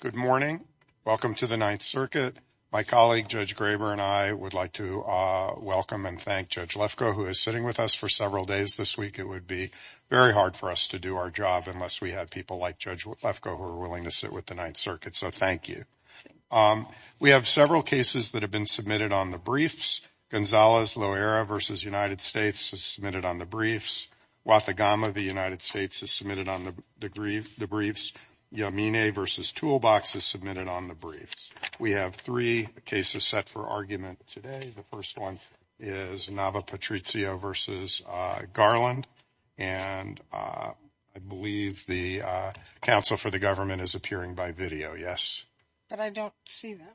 Good morning. Welcome to the Ninth Circuit. My colleague Judge Graber and I would like to welcome and thank Judge Lefkoe who is sitting with us for several days this week. It would be very hard for us to do our job unless we had people like Judge Lefkoe who are willing to sit with the Ninth Circuit, so thank you. We have several cases that have been submitted on the briefs. Gonzales-Loera v. United States is submitted on the briefs. Guatagama v. United States is submitted on the briefs. Yamine v. Toolbox is submitted on the briefs. We have three cases set for argument today. The first one is Nava-Patricio v. Garland, and I believe the counsel for the government is appearing by video, yes? But I don't see them.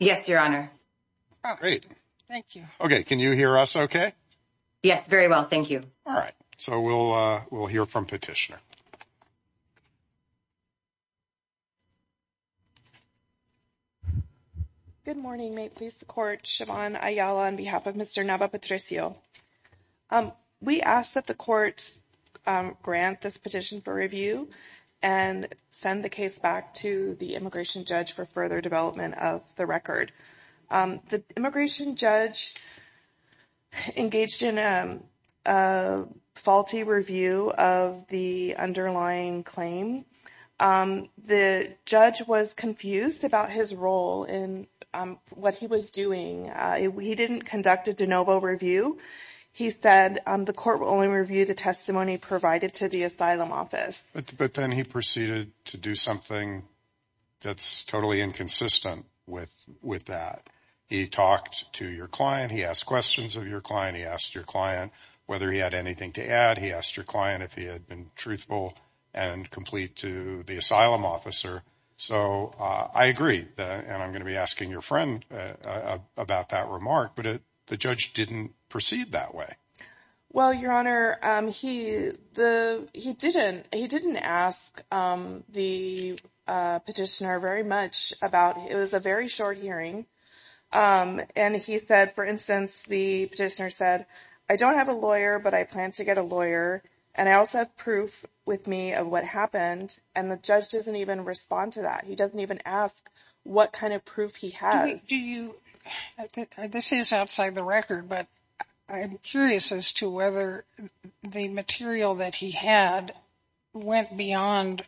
Yes, Your Honor. Great. Thank you. Okay, can you hear us okay? Yes, very well. Thank you. All right, so we'll hear from Petitioner. Good morning. May it please the Court? Siobhan Ayala on behalf of Mr. Nava-Patricio. We ask that the Court grant this petition for review and send the case back to the judge for further development of the record. The immigration judge engaged in a faulty review of the underlying claim. The judge was confused about his role in what he was doing. He didn't conduct a de novo review. He said the Court will only review the testimony provided to the asylum office. But then he proceeded to do something that's totally inconsistent with that. He talked to your client. He asked questions of your client. He asked your client whether he had anything to add. He asked your client if he had been truthful and complete to the asylum officer. So I agree, and I'm going to be asking your friend about that remark, but the judge didn't proceed that way. Well, Your Honor, he didn't ask the petitioner very much about it. It was a very short hearing, and he said, for instance, the petitioner said, I don't have a lawyer, but I plan to get a lawyer, and I also have proof with me of what happened, and the judge doesn't even respond to that. He asked whether the material that he had went beyond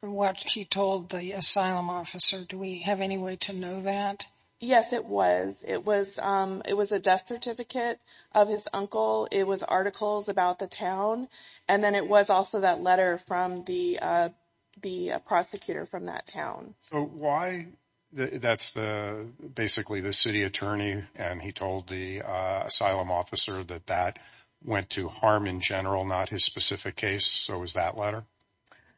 what he told the asylum officer. Do we have any way to know that? Yes, it was. It was a death certificate of his uncle. It was articles about the town, and then it was also that letter from the prosecutor from that town. So why? That's basically the city attorney, and he told the asylum officer that that went to harm in general, not his specific case. So it was that letter?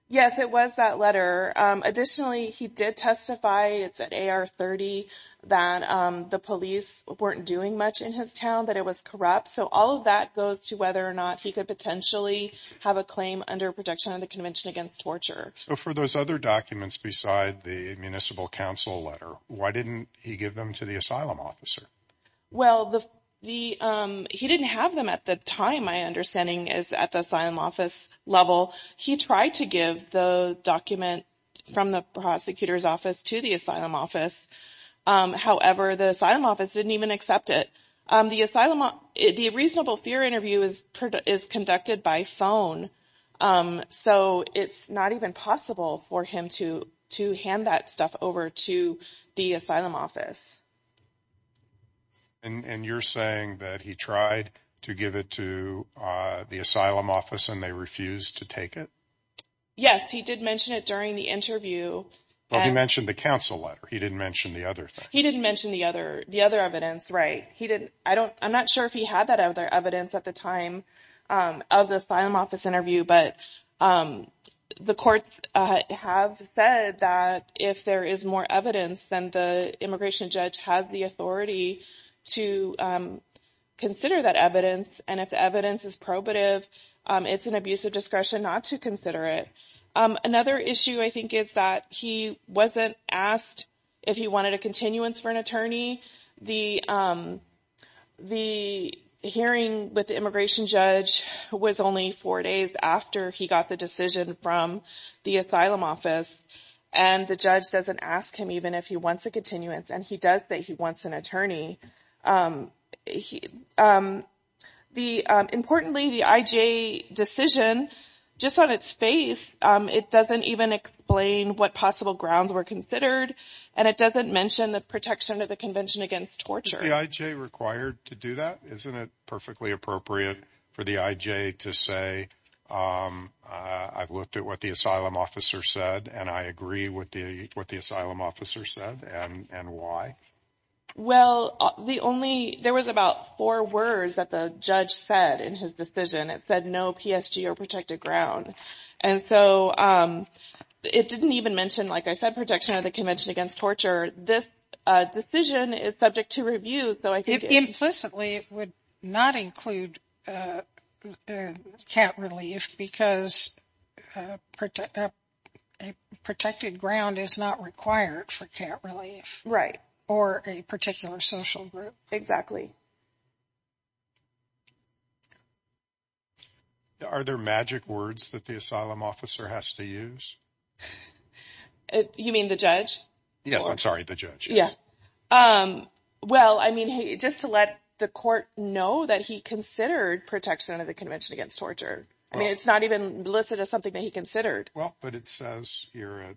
Yes, it was that letter. Additionally, he did testify, it's at AR-30, that the police weren't doing much in his town, that it was corrupt. So all of that goes to whether or not he could potentially have a claim under protection of the Convention Against Torture. So for those other documents beside the Municipal Council letter, why didn't he give them to the asylum officer? Well, he didn't have them at the time, my understanding, at the asylum office level. He tried to give the document from the prosecutor's office to the asylum office. However, the asylum office didn't even accept it. The reasonable fear interview is conducted by phone. So it's not even possible for him to hand that stuff over to the asylum office. And you're saying that he tried to give it to the asylum office and they refused to take it? Yes, he did mention it during the interview. Well, he mentioned the council letter. He didn't mention the other thing. He didn't mention the other evidence, right. I'm not sure if he had that other evidence at the time of the asylum office interview. But the courts have said that if there is more evidence, then the immigration judge has the authority to consider that evidence. And if the evidence is probative, it's an abuse of discretion not to consider it. Another issue, I with the immigration judge was only four days after he got the decision from the asylum office. And the judge doesn't ask him even if he wants a continuance. And he does say he wants an attorney. The importantly, the IJ decision, just on its face, it doesn't even explain what possible grounds were considered. And it doesn't mention the protection of the Convention Against Torture. Is the IJ required to do that? Isn't it perfectly appropriate for the IJ to say, I've looked at what the asylum officer said and I agree with the what the asylum officer said and why? Well, the only there was about four words that the judge said in his decision. It said no PSG or protected ground. And so it didn't even mention, like I said, protection of the Convention Against Torture. This decision is subject to review. So I think implicitly it would not include can't relief because a protected ground is not required for can't relief. Right. Or a particular social group. Exactly. Are there magic words that the asylum officer has to use? You mean the judge? Yes. I'm sorry. The judge. Yeah. Well, I mean, just to let the court know that he considered protection of the Convention Against Torture. I mean, it's not even listed as something that he considered. Well, but it says here at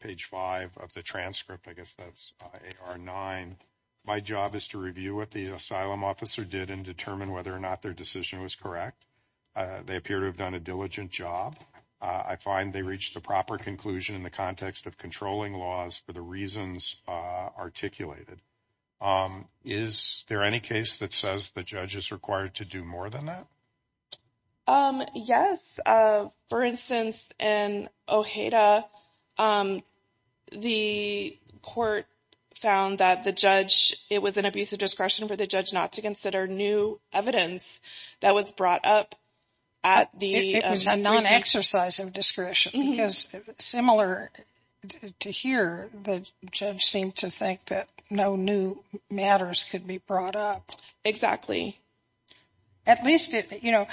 page five of the transcript, I guess, that's nine. My job is to review what the asylum officer did and determine whether or not their was correct. They appear to have done a diligent job. I find they reached the proper conclusion in the context of controlling laws for the reasons articulated. Is there any case that says the judge is required to do more than that? Yes. For instance, in Ojeda, the court found that the judge it was an abuse of discretion for the judge not to consider new evidence that was brought up. It was a non-exercise of discretion because similar to here, the judge seemed to think that no new matters could be brought up. Exactly. At least, you know,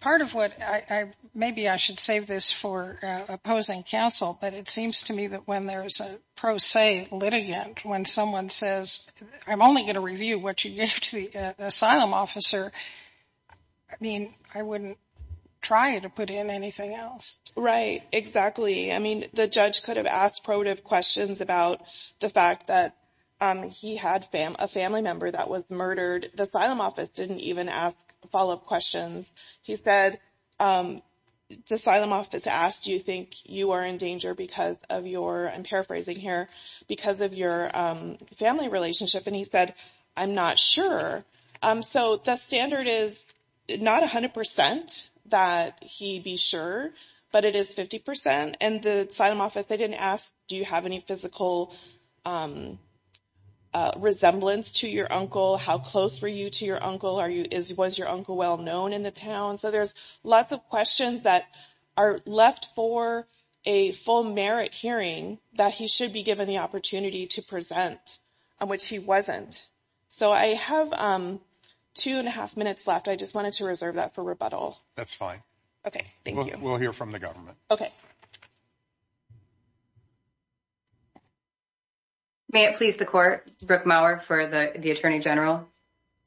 part of what I maybe I should save this for opposing counsel, but it seems to me that when there is a pro se litigant, when someone says, I'm only going to review what you give to the asylum officer, I mean, I wouldn't try to put in anything else. Right. Exactly. I mean, the judge could have asked questions about the fact that he had a family member that was murdered. The asylum office didn't even ask follow-up questions. He said the asylum office asked, do you think you are in danger because of your, I'm paraphrasing here, because of your family relationship? And he said, I'm not sure. So the standard is not 100 percent that he be sure, but it is 50 percent. And the asylum office, they didn't ask, do you have any physical resemblance to your uncle? How close were you to your uncle? Are you is was your uncle well known in the town? So there's lots of questions that are left for a full merit hearing that he should be given the opportunity to present on which he wasn't. So I have two and a half minutes left. I just wanted to reserve that for rebuttal. That's fine. OK, thank you. We'll hear from the government. OK. May it please the court, Brooke Maurer for the attorney general.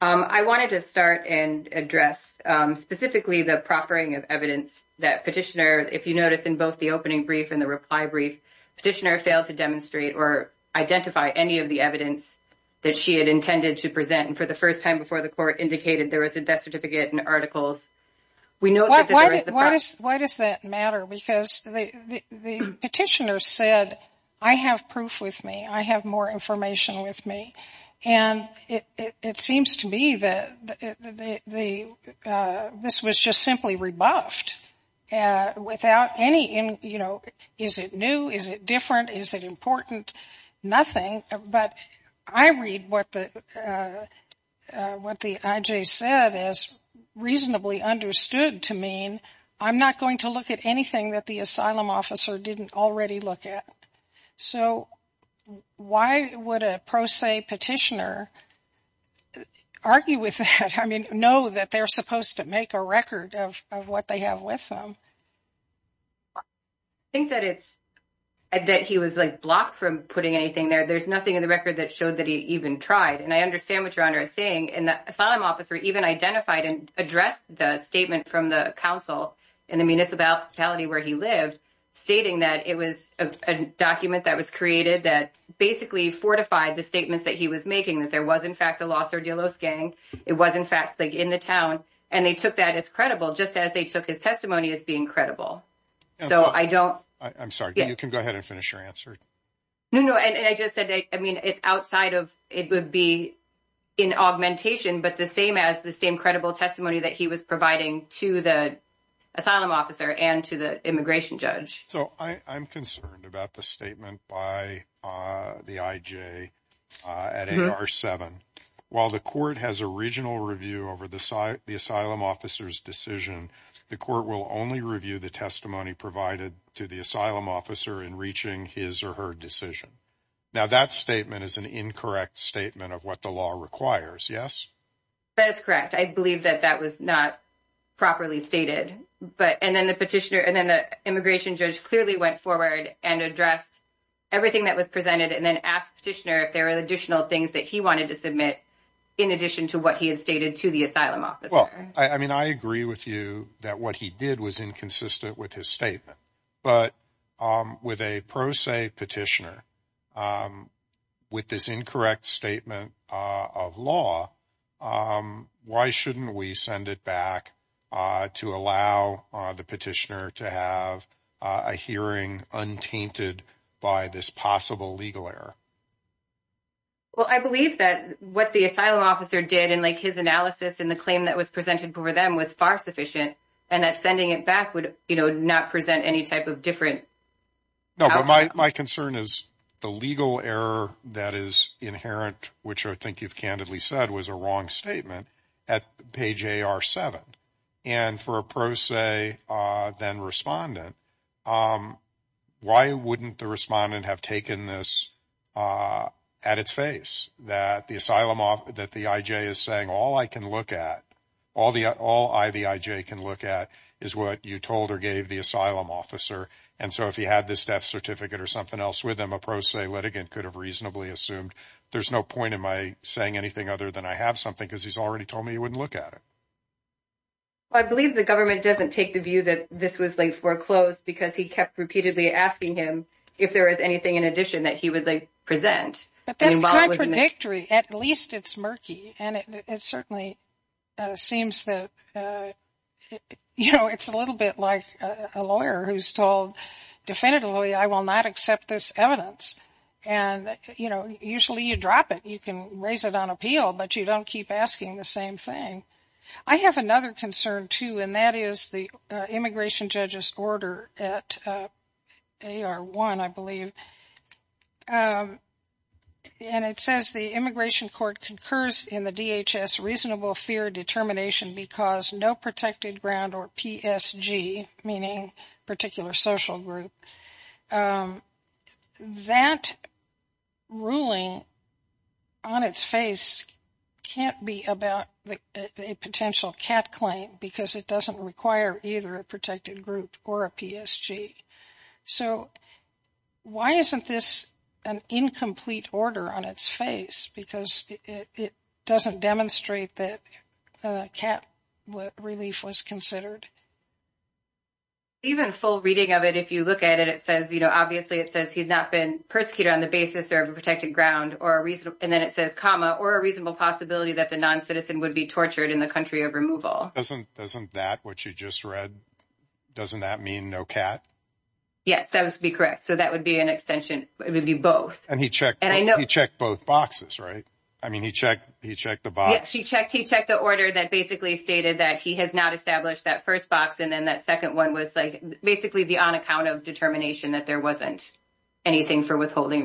I wanted to start and address specifically the proffering of evidence that petitioner, if you notice in both the opening brief and the reply brief, petitioner failed to demonstrate or identify any of the evidence that she had intended to present. And for the first time before the court indicated there was a death certificate and articles, we know why. Why does that matter? Because the petitioner said, I have proof with me, I have more information with me. And it seems to be that the this was just simply rebuffed without any, you know, is it new? Is it different? Is it important? Nothing. But I read what the what the IJ said is reasonably understood to mean I'm not going to look at anything that the asylum officer didn't already look at. So why would a pro se petitioner argue with that? I mean, no, that they're supposed to make a record of what they have with them. I think that it's that he was like blocked from putting anything there. There's nothing in the record that showed that he even tried. And I understand what you're saying. And the asylum officer even identified and addressed the statement from the council in the municipality where he lived, stating that it was a document that was created that basically fortified the making that there was in fact a Los Ordelos gang. It was in fact like in the town. And they took that as credible just as they took his testimony as being credible. So I don't I'm sorry, you can go ahead and finish your answer. No, no. And I just said, I mean, it's outside of it would be in augmentation, but the same as the same credible testimony that he was providing to the asylum officer and to the immigration judge. So I'm concerned about the statement by the IJ at AR7. While the court has a regional review over the asylum officer's decision, the court will only review the testimony provided to the asylum officer in reaching his or her decision. Now, that statement is an incorrect statement of what the law requires. Yes, that is correct. I believe that that was not properly stated. But and then the petitioner and the immigration judge clearly went forward and addressed everything that was presented and then asked petitioner if there were additional things that he wanted to submit in addition to what he had stated to the asylum officer. Well, I mean, I agree with you that what he did was inconsistent with his statement. But with a pro se petitioner, with this incorrect statement of law, why shouldn't we send it back to allow the petitioner to have a hearing untainted by this possible legal error? Well, I believe that what the asylum officer did and like his analysis and the claim that was presented for them was far sufficient and that sending it back would not present any type of different. No, but my concern is the legal error that is inherent, which I think you've candidly said was a wrong statement at page seven. And for a pro se then respondent, why wouldn't the respondent have taken this at its face that the asylum that the IJ is saying all I can look at, all I the IJ can look at is what you told or gave the asylum officer. And so if he had this death certificate or something else with them, a pro se litigant could have reasonably assumed. There's no point in my saying anything other than I have something because he's already told me he wouldn't look at it. I believe the government doesn't take the view that this was like foreclosed because he kept repeatedly asking him if there is anything in addition that he would like present. But that's contradictory. At least it's murky. And it certainly seems that, you know, it's a little bit like a lawyer who's told definitively, I will not accept this evidence. And, you know, usually you drop it. You can raise it on appeal, but you don't keep asking the same thing. I have another concern, too, and that is the immigration judge's order at AR1, I believe. And it says the immigration court concurs in the DHS reasonable fear determination because no protected ground or PSG, meaning particular social group. That ruling on its face can't be about a potential cat claim because it doesn't require either a protected group or a PSG. So why isn't this an incomplete order on its face? Because it doesn't demonstrate that cat relief was considered. Even full reading of it, if you look at it, it says, you know, obviously it says he's not been persecuted on the basis of a protected ground or a reasonable and then it says, comma, or a reasonable possibility that the non-citizen would be tortured in the country of removal. Doesn't that, what you just read, doesn't that mean no cat? Yes, that would be correct. So that would be an extension. It would be both. And he checked both boxes, right? I mean, he checked the box. Yes, he checked the order that basically stated that he has not established that first box and then that second one was like basically the on account of determination that there wasn't anything for withholding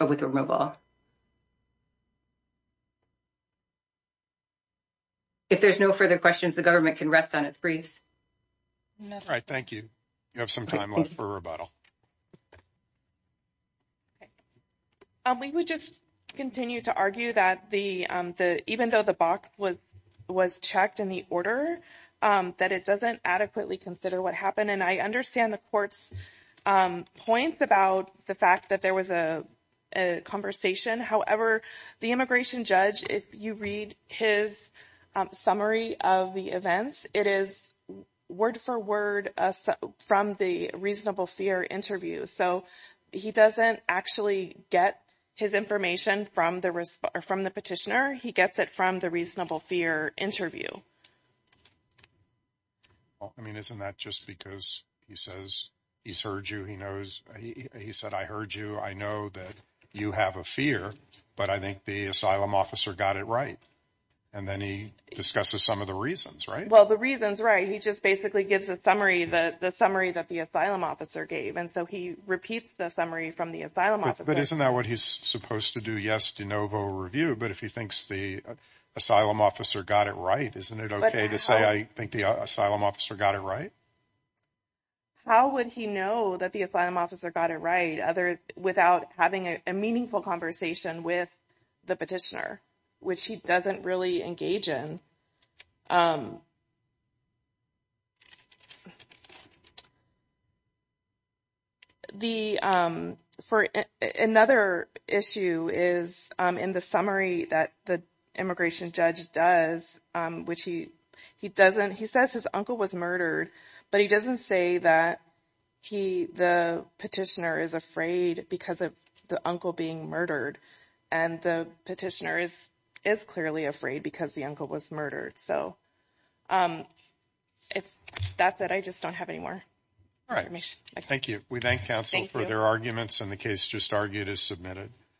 with removal. If there's no further questions, the government can rest on its briefs. All right. Thank you. You have some time left for rebuttal. We would just continue to argue that the, even though the box was checked in the order, that it doesn't adequately consider what happened. And I understand the court's points about the fact that there was a conversation. However, the immigration judge, if you read his summary of the events, it is word for word from the reasonable fear interview. So he doesn't actually get his information from the petitioner. He gets it from the reasonable fear interview. Well, I mean, isn't that just because he says he's heard you, he knows, he said, I heard you. I know that you have a fear, but I think the asylum officer got it right. And then he discusses some of the reasons, right? Well, the reasons, right. He just basically gives a summary, the summary that the asylum officer gave. And so he repeats the summary from the asylum officer. But isn't that what he's supposed to do? Yes, de novo review. But if he thinks the asylum officer got it right, isn't it okay to say, I think the asylum officer got it right? How would he know that the asylum officer got it right other without having a meaningful conversation with the petitioner, which he doesn't really engage in? The for another issue is in the summary that the immigration judge does, which he, he doesn't, he says his uncle was murdered, but he doesn't say that he, the petitioner is afraid because of the uncle being murdered. And the petitioner is, is clearly afraid because the uncle was murdered. So if that's it, I just don't have any more. All right. Thank you. We thank counsel for their arguments and the case just argued as submitted.